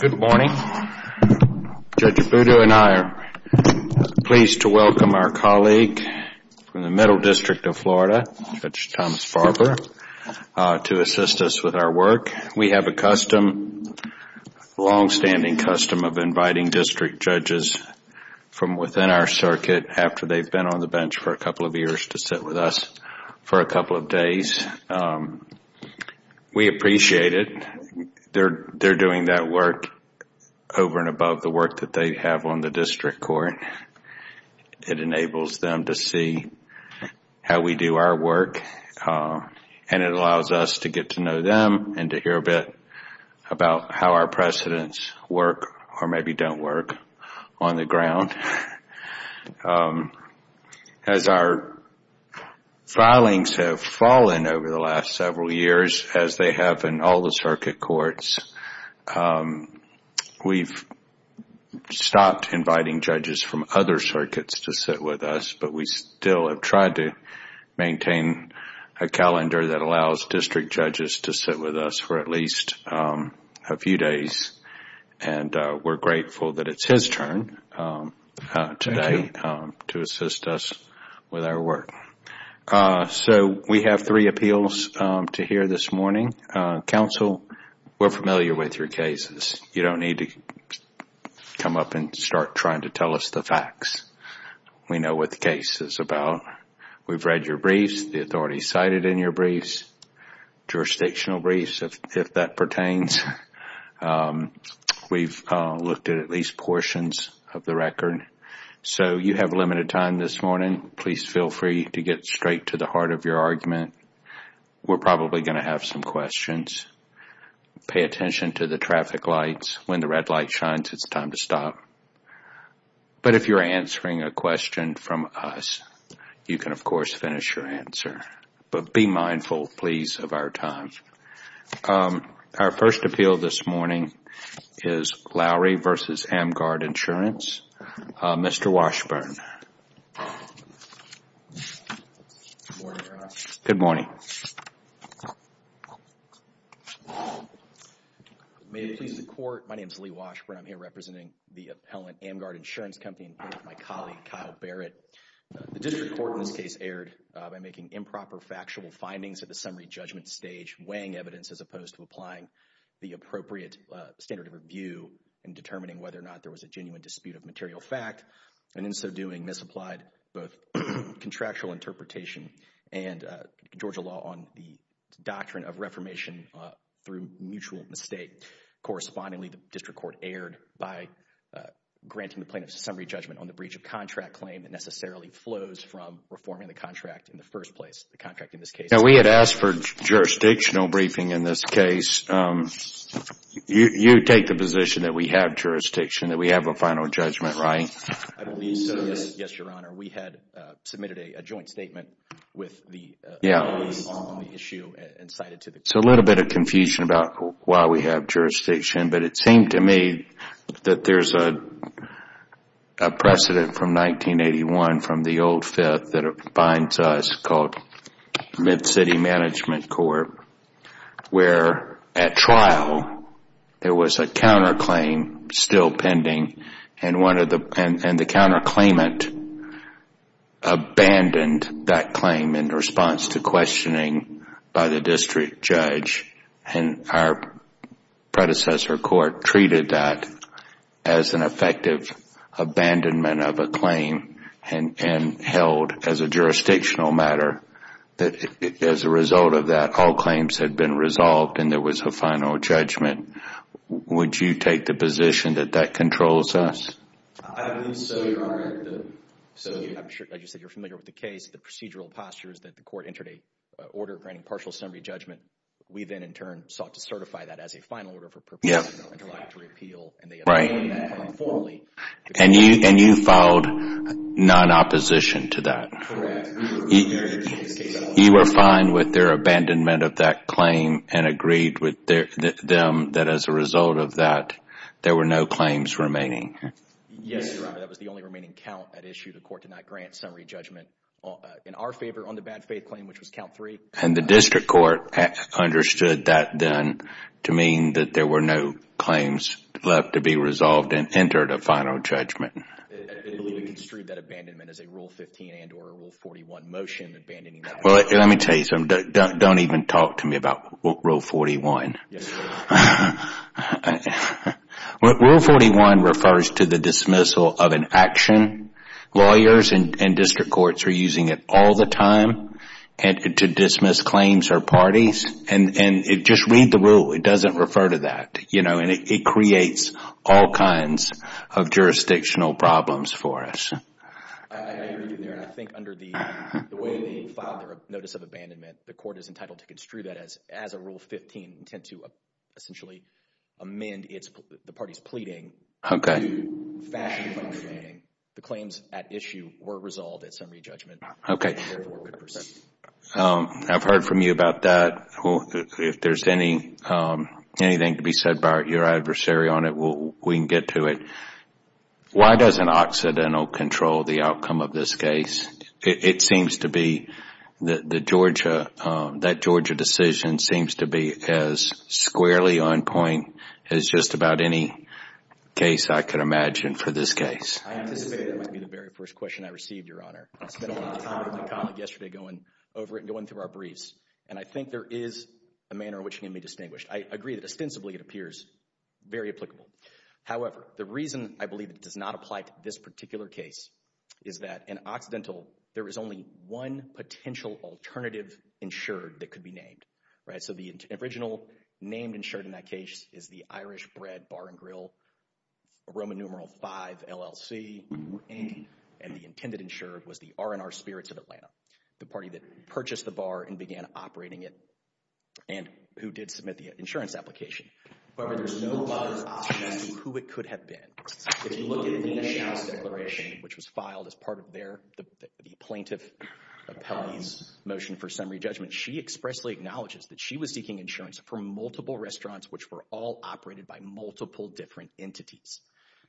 Good morning. Judge Abudu and I are pleased to welcome our colleague from the Middle District of Florida, Judge Thomas Farber, to assist us with our work. We have a long-standing custom of inviting district judges from within our circuit after they've been on the bench for a couple of years to sit with us for a couple of days. We appreciate it. They're doing that work over and above the work that they have on the district court. It enables them to see how we do our work, and it allows us to get to know them and to hear a bit about how our precedents work or maybe don't work on the ground. As our filings have fallen over the last several years, as they have in all the circuit courts, we've stopped inviting judges from other circuits to sit with us, but we still have tried to maintain a calendar that allows district judges to sit with us for at least a few days. We're grateful that it's his turn today to assist us with our work. We have three appeals to hear this morning. Counsel, we're familiar with your cases. You don't need to come up and start trying to tell us the facts. We know what the case is about. We've read your briefs, the authorities cited in your briefs, jurisdictional briefs, if that pertains. We've looked at at least portions of the record. So you have limited time this morning. Please feel free to get straight to the heart of your argument. We're probably going to have some questions. Pay attention to the traffic lights. When the question from us, you can, of course, finish your answer. Be mindful, please, of our time. Our first appeal this morning is Lowry v. AmGuard Insurance. Mr. Washburn. Good morning, Your Honor. Good morning. May it please the Court, my name is Lee Washburn. I'm here representing the appellant AmGuard Insurance Company and my colleague, Kyle Barrett. The district court in this case erred by making improper factual findings at the summary judgment stage, weighing evidence as opposed to applying the appropriate standard of review in determining whether or not there was a genuine dispute of material fact, and in so doing, misapplied both contractual interpretation and Georgia law on the doctrine of reformation through mutual mistake. Correspondingly, the plaintiff's summary judgment on the breach of contract claim necessarily flows from reforming the contract in the first place, the contract in this case. Now, we had asked for jurisdictional briefing in this case. You take the position that we have jurisdiction, that we have a final judgment, right? I believe so, yes, Your Honor. We had submitted a joint statement with the attorneys on the issue and cited to the court. There's a little bit of confusion about why we have jurisdiction, but it seemed to me that there's a precedent from 1981 from the old Fifth that binds us called Mid-City Management Court, where at trial, there was a counterclaim still pending, and the counterclaimant abandoned that claim in response to questioning by the district judge, and our predecessor court treated that as an effective abandonment of a claim and held as a jurisdictional matter that as a result of that, all claims had been resolved and there was a final judgment. Would you take the position that that controls us? I believe so, Your Honor. As you said, you're familiar with the case. The procedural posture is that the court entered a order granting partial summary judgment. We then in turn sought to certify that as a final order for purpose of no interruption. Right, and you filed non-opposition to that? Correct. We were familiar with the case. You were fine with their abandonment of that claim and agreed with them that as a result of that, there were no claims remaining? Yes, Your Honor. That was the only remaining count that issued. The court did not grant summary judgment in our favor on the bad faith claim, which was count three. The district court understood that then to mean that there were no claims left to be resolved and entered a final judgment. I believe you construed that abandonment as a Rule 15 and or Rule 41 motion, abandoning that motion. Let me tell you something. Don't even talk to me about Rule 41. Yes, Your Honor. Rule 41 refers to the dismissal of an action. Lawyers and district courts are using it all the time to dismiss claims or parties. Just read the rule. It doesn't refer to that. It creates all kinds of jurisdictional problems for us. I agree with you there. I think under the way they filed their notice of abandonment, the court is entitled to construe that as a Rule 15 intent to essentially amend the party's pleading to fashion a final judgment. The claims at issue were resolved at summary judgment. I have heard from you about that. If there is anything to be said about your adversary on it, we can get to it. Why doesn't Occidental control the outcome of this case? It seems to be that that Georgia decision seems to be as squarely on point as just about any case I can imagine for this case. I anticipated that might be the very first question I received, Your Honor. I spent a lot of time with my colleague yesterday going over it and going through our briefs. And I think there is a manner in which it can be distinguished. I agree that ostensibly it appears very applicable. However, the reason I believe it does not apply to this particular case is that in Occidental, there is only one potential alternative insured that could be named. So the original named insured in that case is the Irish Bread Bar and Grill Roman numeral 5 LLC. And the intended insured was the R&R Spirits of Atlanta, the party that purchased the bar and began operating it and who did submit the insurance application. However, there is no obvious who it could have been. If you look at the insurance declaration, which was filed as part of the plaintiff's motion for summary judgment, she expressly acknowledges that she was seeking insurance for multiple restaurants, which were all operated by multiple different entities.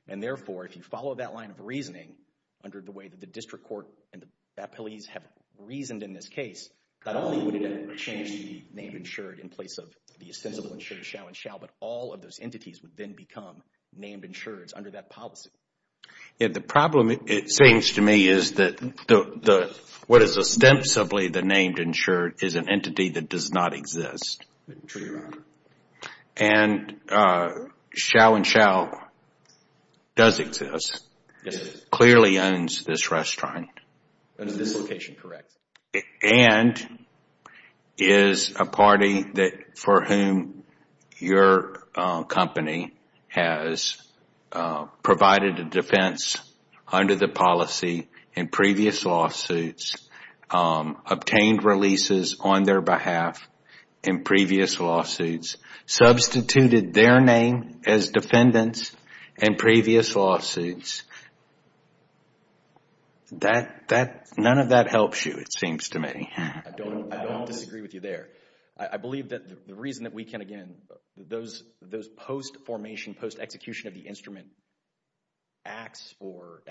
And therefore, if you follow that line of reasoning under the way that the district court and the appellees have reasoned in this case, not only would it have changed the named insured in place of the ostensibly insured shall and shall, but all of those entities would then become named insureds under that policy. The problem, it seems to me, is that what is ostensibly the named insured is an entity that does not exist. And shall and shall does exist, clearly owns this restaurant and is a party for whom your company has provided a defense under the policy in previous lawsuits, obtained releases on their behalf in previous lawsuits, substituted their name as defendants in previous lawsuits. None of that helps you, it seems to me. I don't disagree with you there. I believe that the reason that we can, again, those post-formation, post-execution of the instrument acts or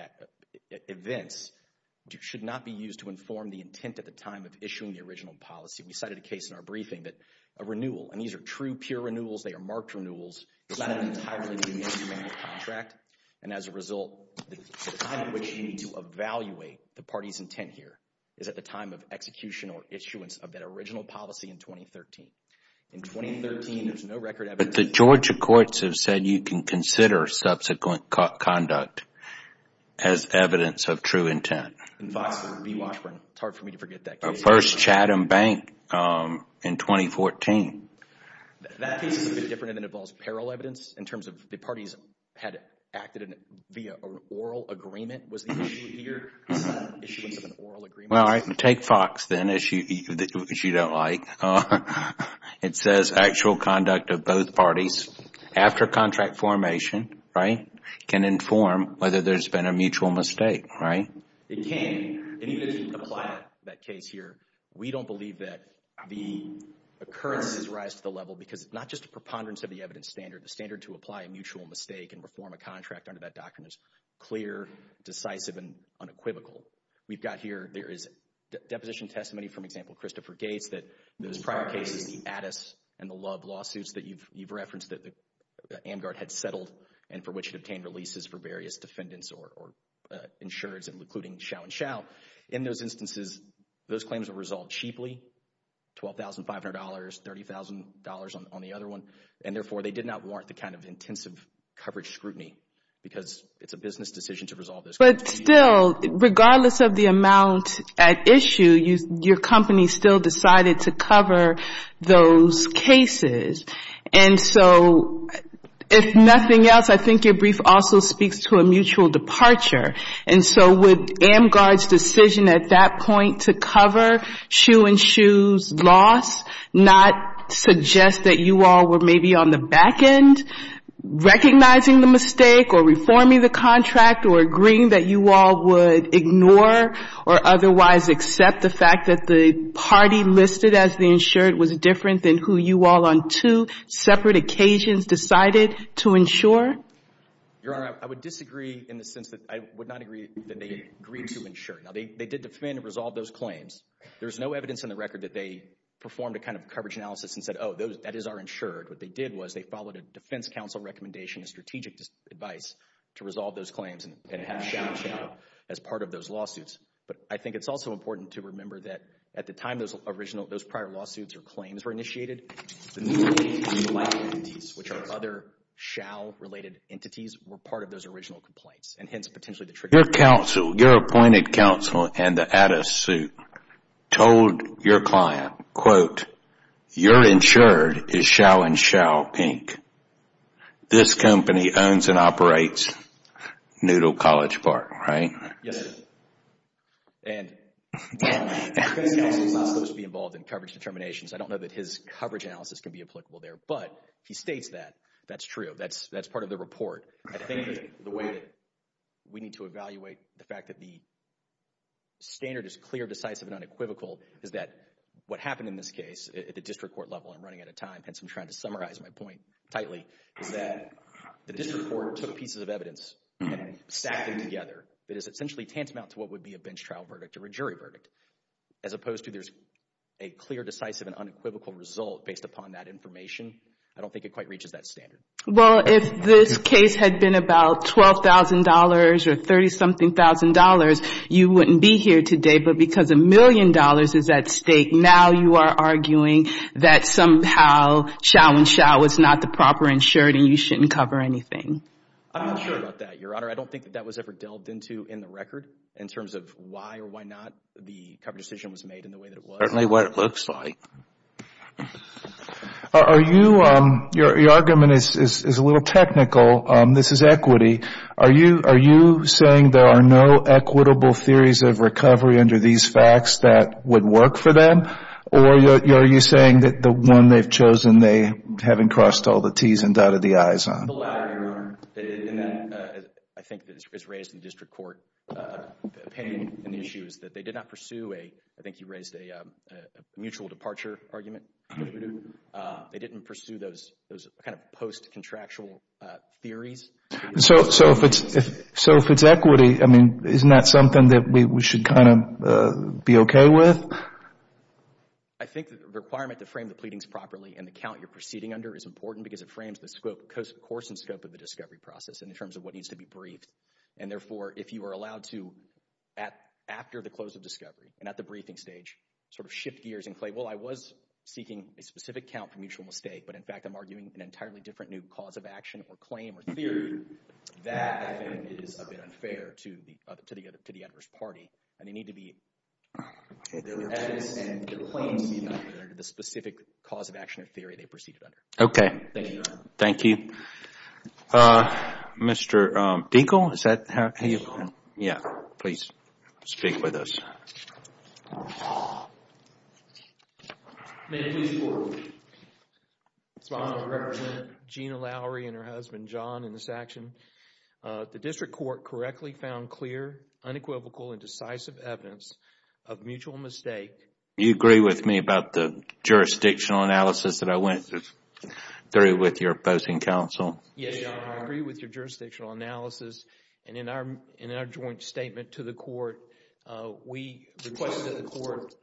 events should not be used to enforce the intent at the time of issuing the original policy. We cited a case in our briefing that a renewal, and these are true, pure renewals, they are marked renewals, is not an entirely new instrument or contract. And as a result, the time at which you need to evaluate the party's intent here is at the time of execution or issuance of that original policy in 2013. In 2013, there's no record evidence... But the Georgia courts have said you can consider subsequent conduct as evidence of true intent. In FOX, it's hard for me to forget that case. First Chatham Bank in 2014. That case is a bit different and it involves parallel evidence in terms of the parties had acted via oral agreement was the issue here, issuance of an oral agreement. Take FOX then, which you don't like. It says actual conduct of both parties after contract formation, right, can inform whether there's been a mutual mistake, right? It can. And even if you apply that case here, we don't believe that the occurrences rise to the level because it's not just a preponderance of the evidence standard. The standard to apply a mutual mistake and reform a contract under that doctrine is clear, decisive, and unequivocal. We've got here, there is deposition testimony from example, Christopher Gates, that those prior cases, the Addis and the Love lawsuits that you've referenced that the AmGuard had settled and for which it obtained releases for various defendants or insurers including Xiao and Xiao, in those instances, those claims were resolved cheaply, $12,500, $30,000 on the other one, and therefore they did not warrant the kind of intensive coverage scrutiny because it's a business decision to resolve those claims. But still, regardless of the amount at issue, your company still decided to cover those cases. And so if nothing else, I think your brief also speaks to a mutual departure. And so would AmGuard's decision at that point to cover Xue and Xue's loss not suggest that you all were maybe on the back end recognizing the mistake or reforming the contract or agreeing that you all would ignore or otherwise accept the fact that the party listed as the insured was different than who you all on two separate occasions decided to insure? Your Honor, I would disagree in the sense that I would not agree that they agreed to insure. Now, they did defend and resolve those claims. There's no evidence in the record that they performed a kind of coverage analysis and said, oh, that is our insured. What they did was they followed a defense counsel recommendation, a strategic advice to resolve those claims and have Xiao and Xiao as part of those lawsuits. But I think it's also important to remember that at the time those prior lawsuits or claims were initiated, the new claims were like entities which are other Xiao related entities were part of those original complaints and hence potentially the trigger. Your counsel, your appointed counsel and the add-a-suit told your client, quote, your insured is Xiao and Xiao Inc. This company owns and operates Noodle College Park, right? Yes. And the defense counsel is not supposed to be involved in coverage determinations. I don't know that his coverage analysis can be applicable there, but he states that that's true. That's that's part of the report. I think the way that we need to evaluate the fact that the standard is clear, decisive and unequivocal is that what happened in this case at the district court level, I'm running out of time, hence I'm trying to summarize my point tightly, is that the district court took pieces of evidence and stacked them together. It is essentially tantamount to what would be a bench trial verdict or a jury verdict as opposed to there's a clear, decisive and unequivocal result based upon that information. I don't think it quite reaches that standard. Well, if this case had been about $12,000 or $30-something thousand dollars, you wouldn't be here today, but because a million dollars is at stake, now you are arguing that somehow Xiao and Xiao was not the proper insured and you shouldn't cover anything. I'm not sure about that, Your Honor. I don't think that that was ever delved into in the way that it was. Certainly what it looks like. Your argument is a little technical. This is equity. Are you saying there are no equitable theories of recovery under these facts that would work for them? Or are you saying that the one they've chosen, they haven't crossed all the T's and dotted the I's on? The latter, Your Honor. I think it's raised in the district court opinion and issues that they did not pursue a, I think you raised a mutual departure argument. They didn't pursue those kind of post-contractual theories. So if it's equity, I mean, isn't that something that we should kind of be okay with? I think the requirement to frame the pleadings properly and the count you're proceeding under is important because it frames the course and scope of the discovery process in terms of what needs to be briefed. And therefore, if you were allowed to, after the close of discovery and at the briefing stage, sort of shift gears and claim, well, I was seeking a specific count for mutual mistake, but in fact, I'm arguing an entirely different new cause of action or claim or theory, that is a bit unfair to the adverse party. And they need to be evidence and the claims need to be under the specific cause of action or theory they proceeded under. Okay. Thank you, Your Honor. Thank you. Thank you. Mr. Binkle, is that how you? Yeah, please speak with us. May it please the Court, it's my honor to represent Gina Lowry and her husband, John, in this action. The district court correctly found clear, unequivocal and decisive evidence of mutual mistake. You agree with me about the jurisdictional analysis that I went through with your opposing counsel? Yes, Your Honor. I agree with your jurisdictional analysis. And in our joint statement to the court, we requested that the court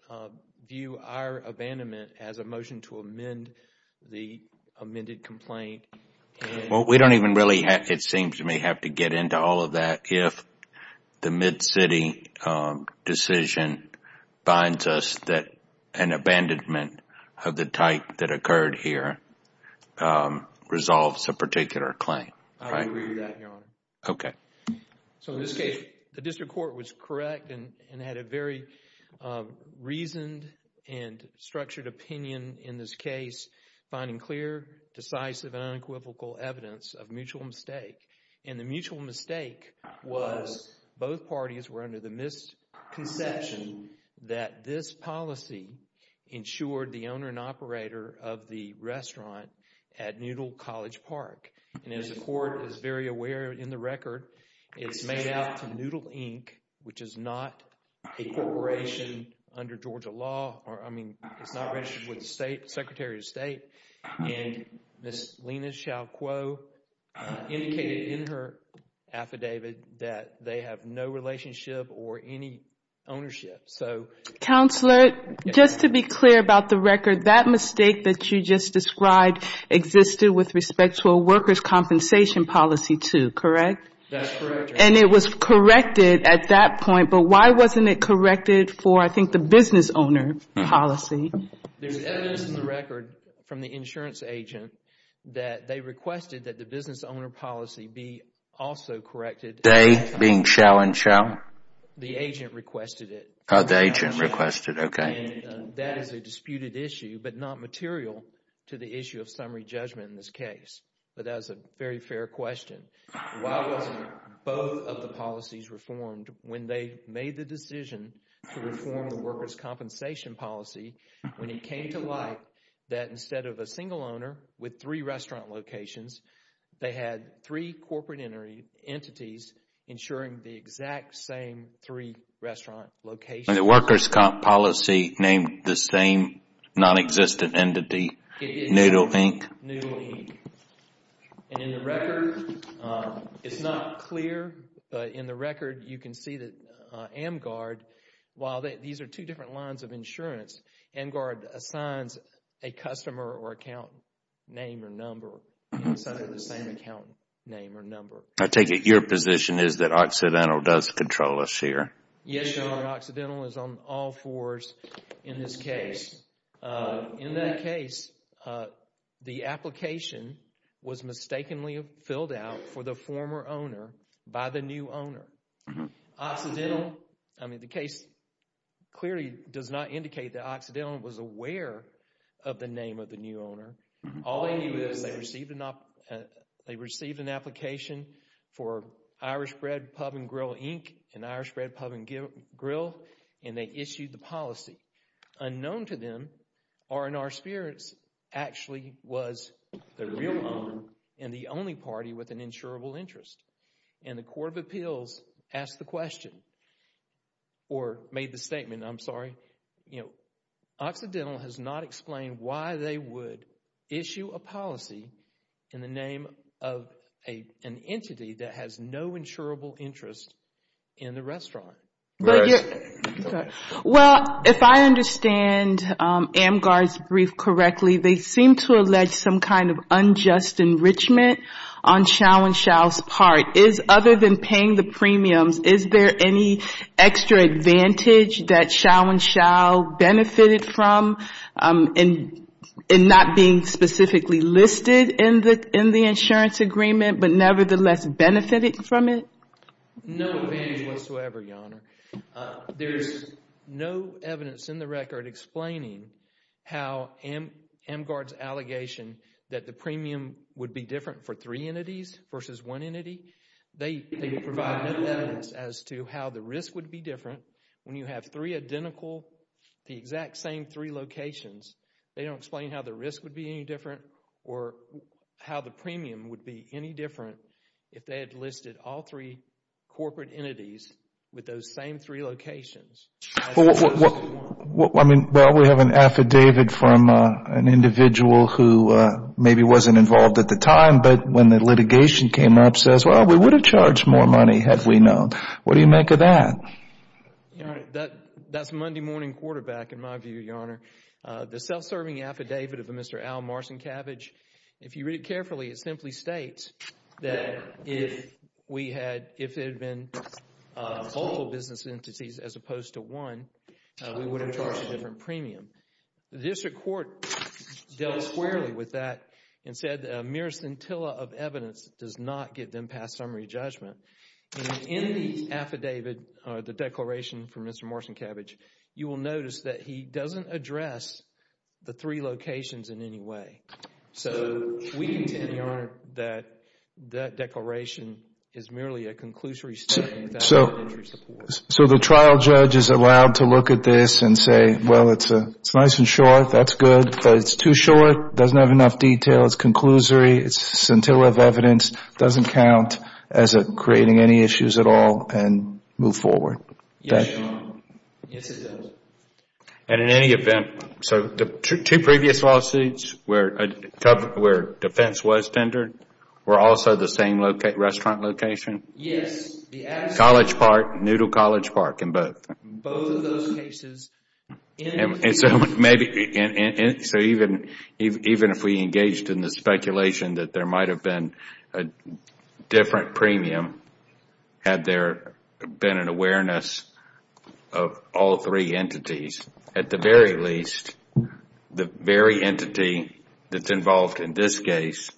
view our abandonment as a motion to amend the amended complaint. Well, we don't even really, it seems to me, have to get into all of that if the Mid-City decision binds us that an abandonment of the type that occurred here resolves a particular claim. I agree with that, Your Honor. Okay. So, in this case, the district court was correct and had a very reasoned and structured opinion in this case, finding clear, decisive and unequivocal evidence of mutual mistake. And the mutual mistake was both parties were under the misconception that this policy insured the owner and operator of the restaurant at Noodle College Park. And as the court is very aware in the record, it's made out to Noodle Inc., which is not a corporation under Georgia law or, I mean, it's not registered with the state, Secretary of State. And Ms. Lena Shao made a clear affidavit that they have no relationship or any ownership. Counselor, just to be clear about the record, that mistake that you just described existed with respect to a worker's compensation policy, too, correct? That's correct, Your Honor. And it was corrected at that point, but why wasn't it corrected for, I think, the business owner policy? There's evidence in the record from the insurance agent that they requested that the business owner policy be also corrected. They being Shao and Shao? The agent requested it. Oh, the agent requested it, okay. And that is a disputed issue, but not material to the issue of summary judgment in this case. But that is a very fair question. Why wasn't both of the policies reformed when they made the decision to reform the worker's compensation policy when it came to light that instead of a single owner with three restaurant locations, they had three corporate entities insuring the exact same three restaurant locations? And the worker's comp policy named the same non-existent entity, Noodle Inc.? It did, Noodle Inc. And in the record, it's not clear, but in the record, you can see that AmGuard, while these are two different lines of insurance, AmGuard assigns a customer or account name or number inside of the same account name or number. I take it your position is that Occidental does control us here? Yes, Your Honor. Occidental is on all fours in this case. In that case, the application was mistakenly filled out for the former owner by the new owner. Occidental, I mean, the new owner, all they did was they received an application for Irish Bread Pub and Grill, Inc., and Irish Bread Pub and Grill, and they issued the policy. Unknown to them, R&R Spirits actually was the real owner and the only party with an insurable interest. And the Court of Appeals asked the question, or made the statement, I'm sorry, you know, Occidental has not explained why they would issue a policy in the name of an entity that has no insurable interest in the restaurant. Well, if I understand AmGuard's brief correctly, they seem to allege some kind of unjust enrichment on Shao and Shao's part. Other than paying the premiums, is there any extra advantage that Shao and Shao benefited from in not being specifically listed in the insurance agreement, but nevertheless benefited from it? No advantage whatsoever, Your Honor. There's no evidence in the record explaining how AmGuard's allegation that the premium would be different for three entities versus one entity. They have three identical, the exact same three locations. They don't explain how the risk would be any different or how the premium would be any different if they had listed all three corporate entities with those same three locations. Well, I mean, well, we have an affidavit from an individual who maybe wasn't involved at the time, but when the litigation came up, says, well, we would have charged more money had we known. What do you make of that? That's Monday morning quarterback, in my view, Your Honor. The self-serving affidavit of Mr. Al Marcinkiewicz, if you read it carefully, it simply states that if we had, if it had been local business entities as opposed to one, we would have charged a different premium. The district court dealt squarely with that and said a mere scintilla of evidence does not give them past summary judgment. In the affidavit, the declaration from Mr. Marcinkiewicz, you will notice that he doesn't address the three locations in any way. So we contend, Your Honor, that that declaration is merely a conclusory statement without any entry support. So the trial judge is allowed to look at this and say, well, it's nice and short, that's good, but it's too short, doesn't have enough detail, it's conclusory, it's scintilla of evidence, it doesn't count as creating any issues at all and move forward. Yes, Your Honor. Yes, it does. And in any event, so the two previous lawsuits where defense was tendered were also the same restaurant location? Yes. College Park, Noodle College Park, and both? Both of those cases. And so maybe, so even if we engaged in the speculation that there might have been a different premium had there been an awareness of all three entities, at the very least, the very entity that's involved in this case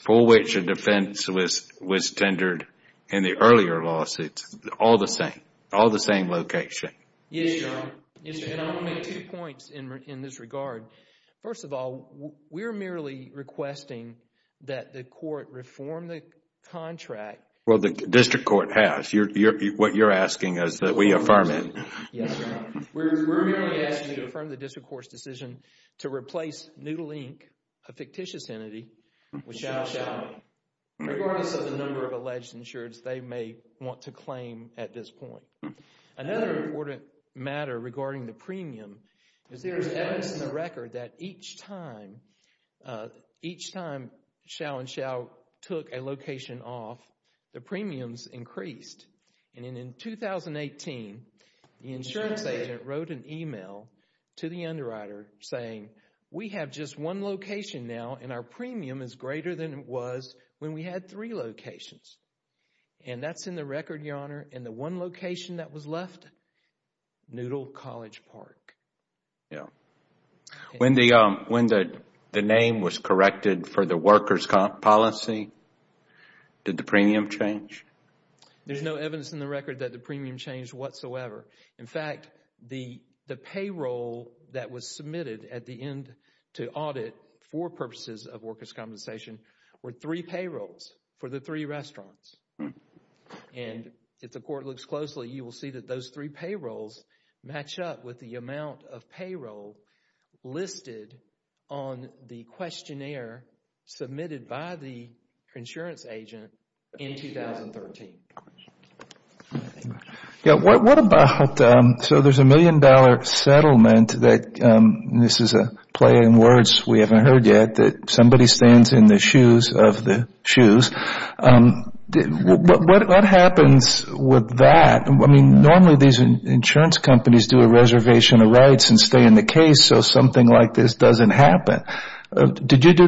for which a defense was tendered in the earlier lawsuits, all the same, all the same location? Yes, Your Honor. Yes, Your Honor. And I want to make two points in this regard. First of all, we're merely requesting that the court reform the contract. Well, the district court has. What you're asking is that we affirm it. Yes, Your Honor. We're merely asking you to affirm the district court's decision to replace Noodle, Inc., a fictitious entity, with Xiao Xiao, regardless of the number of alleged insureds they may want to claim at this point. Another important matter regarding the premium is there is evidence in the record that each time Xiao Xiao took a location off, the premiums increased. And in 2018, the insurance agent wrote an email to the underwriter saying, we have just one location now, and our premium is greater than it was when we had three locations. And the one location that was left, Noodle College Park. Yes. When the name was corrected for the workers' policy, did the premium change? There's no evidence in the record that the premium changed whatsoever. In fact, the payroll that was submitted at the end to audit for purposes of workers' compensation were three payrolls for the three restaurants. And if the court looks closely, you will see that those three payrolls match up with the amount of payroll listed on the questionnaire submitted by the insurance agent in 2013. What about, so there's a million dollar settlement that, and this is a play on words we haven't heard yet, that somebody stands in the shoes of the shoes. What happens with that? I mean, normally these insurance companies do a reservation of rights and stay in the case so something like this doesn't happen. Did you do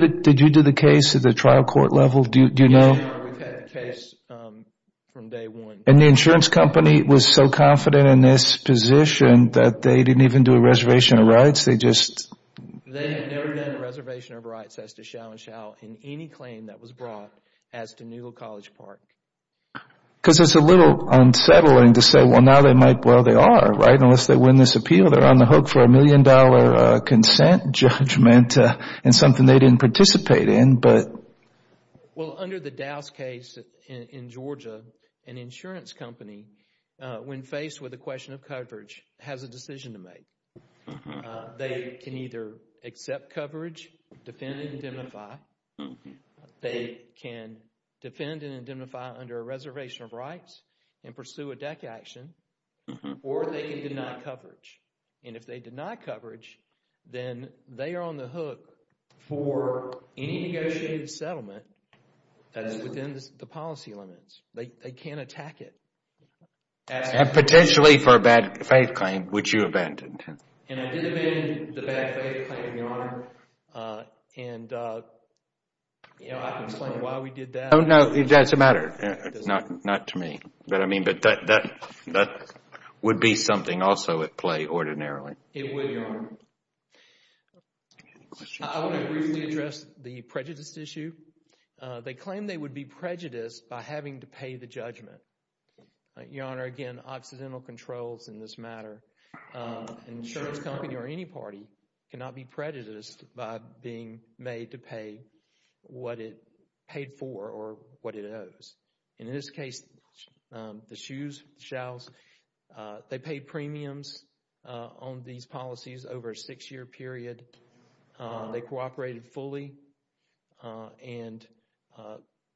the case at the trial court level? Do you know? No, we've had the case from day one. And the insurance company was so confident in this position that they didn't even do a reservation of rights? They just... They have never done a reservation of rights as to shall and shall in any claim that was brought as to Newhill College Park. Because it's a little unsettling to say, well, now they might, well, they are, right, unless they win this appeal. They're on the hook for a million dollar consent judgment and something they didn't participate in but... Well, under the Dow's case in Georgia, an insurance company, when faced with a question of coverage, has a decision to make. They can either accept coverage, defend and indemnify, they can defend and indemnify under a reservation of rights and pursue a deck action, or they can deny coverage. And if they deny coverage, then they are on the hook for any negotiated settlement that is within the policy limits. They can't attack it. And potentially for a bad faith claim, would you abandon it? And I did abandon the bad faith claim, Your Honor, and, you know, I can explain why we did that. Oh, no, it doesn't matter. Not to me. But, I mean, that would be something also at play ordinarily. It would, Your Honor. Any questions? I want to briefly address the prejudice issue. They claim they would be prejudiced by having to pay the judgment. Your Honor, again, Occidental Controls in this matter, an insurance company or any party cannot be prejudiced by being made to pay what it paid for or what it owes. In this case, the shoes, the shalls, they paid premiums on these policies over a six-year period. They cooperated fully, and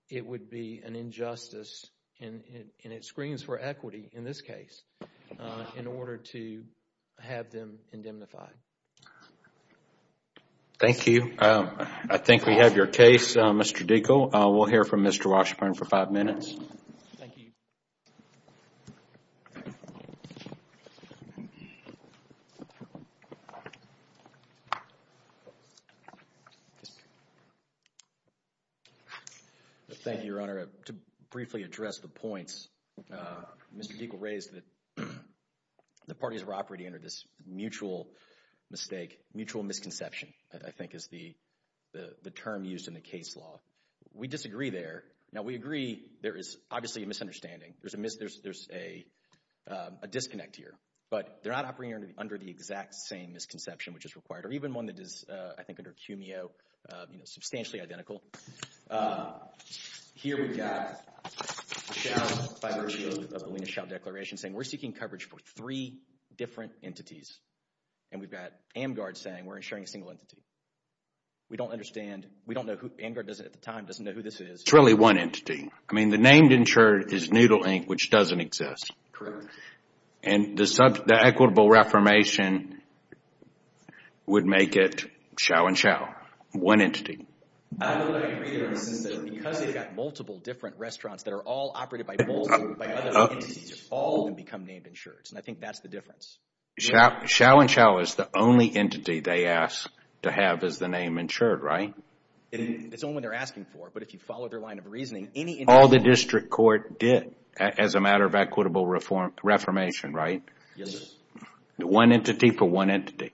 it would be an injustice, and it screams for equity in this case, in order to have them indemnified. Thank you. I think we have your case, Mr. Diekel. We'll hear from Mr. Washburn for five minutes. Thank you. Thank you, Your Honor. To briefly address the points, Mr. Diekel raised that the parties were operating under this mutual mistake, mutual misconception, I think is the term used in the case law. We disagree there. Now, we agree there is obviously a misunderstanding. There's a disconnect here, but they're not operating under the exact same misconception which is required, or even one that is, I think, under CUMEO, you know, substantially identical. Here we've got the shall, by virtue of the Lena shall declaration, saying we're seeking coverage for three different entities, and we've got AMGARD saying we're insuring a single entity. We don't understand. We don't know who, AMGARD doesn't, at the time, doesn't know who this is. It's really one entity. I mean, the named insured is Noodle Inc., which doesn't exist. And the equitable reformation would make it shall and shall, one entity. I don't agree there, since because they've got multiple different restaurants that are all operated by multiple entities, all of them become named insureds, and I think that's the difference. Shall and shall is the only entity they ask to have as the name insured, right? It's the only one they're asking for, but if you follow their line of reasoning, any entity... All the district court did as a matter of equitable reformation, right? Yes. One entity for one entity.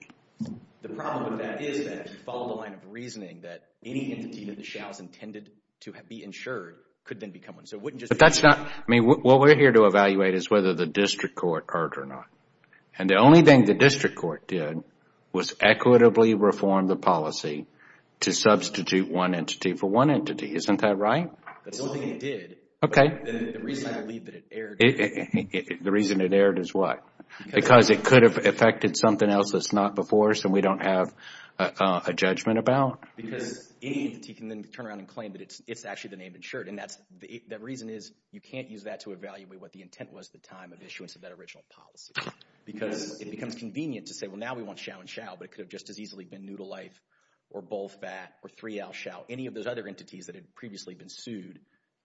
The problem with that is that if you follow the line of reasoning, that any entity that the shall has intended to be insured could then become one. So it wouldn't just... But that's not, I mean, what we're here to evaluate is whether the district court heard or not. And the only thing the district court did was equitably reform the policy to substitute one entity for one entity. Isn't that right? That's the only thing it did, but the reason I believe that it erred... The reason it erred is what? Because it could have affected something else that's not before us and we don't have a judgment about? Because any entity can then turn around and claim that it's actually the name insured, and that's, the reason is you can't use that to evaluate what the intent was at the time of issuance of that original policy, because it becomes convenient to say, well, now we want shall and shall, but it could have just as easily been new to life or both that or three L shall. Any of those other entities that had previously been sued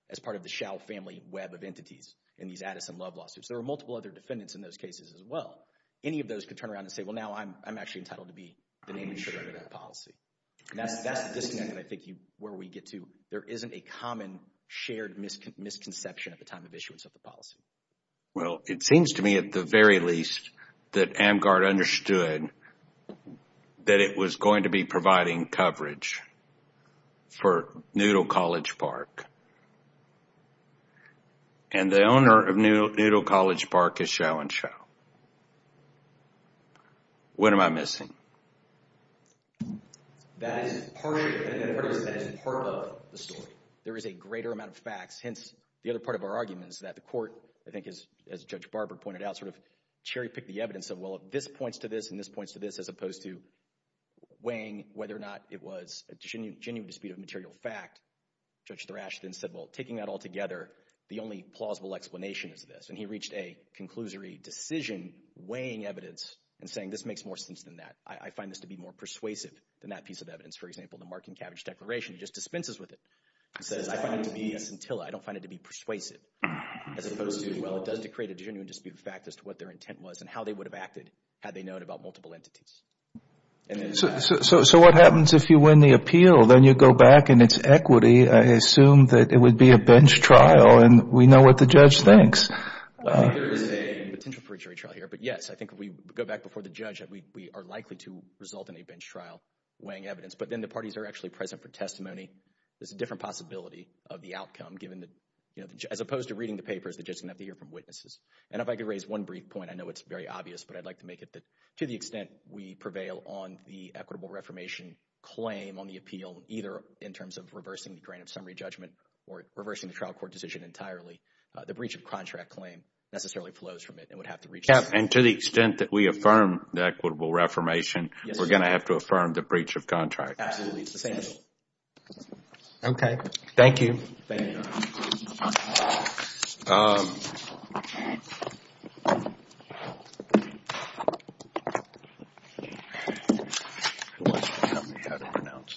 as part of the shall family web of entities in these Addison Love lawsuits. There were multiple other defendants in those cases as well. Any of those could turn around and say, well, now I'm actually entitled to be the name insured under that policy. And that's the disconnect that I think you, where we get to, there isn't a common shared misconception at the time of issuance of the policy. Well, it seems to me at the very least that AmGuard understood that it was going to be providing coverage for Noodle College Park, and the owner of Noodle College Park is shall and shall. What am I missing? That is part of the story. There is a greater amount of facts, hence the other part of our argument is that the court, I think as Judge Barber pointed out, sort of cherry-picked the evidence of, well, this points to this and this points to this, as opposed to weighing whether or not it was a genuine dispute of material fact. Judge Thrashton said, well, taking that all together, the only plausible explanation is this. And he reached a conclusory decision weighing evidence and saying, this makes more sense than that. I find this to be more persuasive than that piece of evidence. For example, the Marking Cabbage Declaration, he just dispenses with it. He says, I find it to be a scintilla, I don't find it to be persuasive, as opposed to, well, it does create a genuine dispute of fact as to what their intent was and how they would have acted had they known about multiple entities. So what happens if you win the appeal, then you go back and it's equity, I assume that it would be a bench trial and we know what the judge thinks. I think there is a potential for a jury trial here, but yes, I think if we go back before the judge, we are likely to result in a bench trial weighing evidence. But then the parties are actually present for testimony, there's a different possibility of the outcome given that, you know, as opposed to reading the papers, the judge is going to have to hear from witnesses. And if I could raise one brief point, I know it's very obvious, but I'd like to make it that to the extent we prevail on the equitable reformation claim on the appeal, either in terms of reversing the grand summary judgment or reversing the trial court decision entirely, the breach of contract claim necessarily flows from it and would have to reach the... And to the extent that we affirm the equitable reformation, we're going to have to affirm the breach of contract. Absolutely. The same. Okay. Thank you. Thank you. Who wants to tell me how to pronounce this one?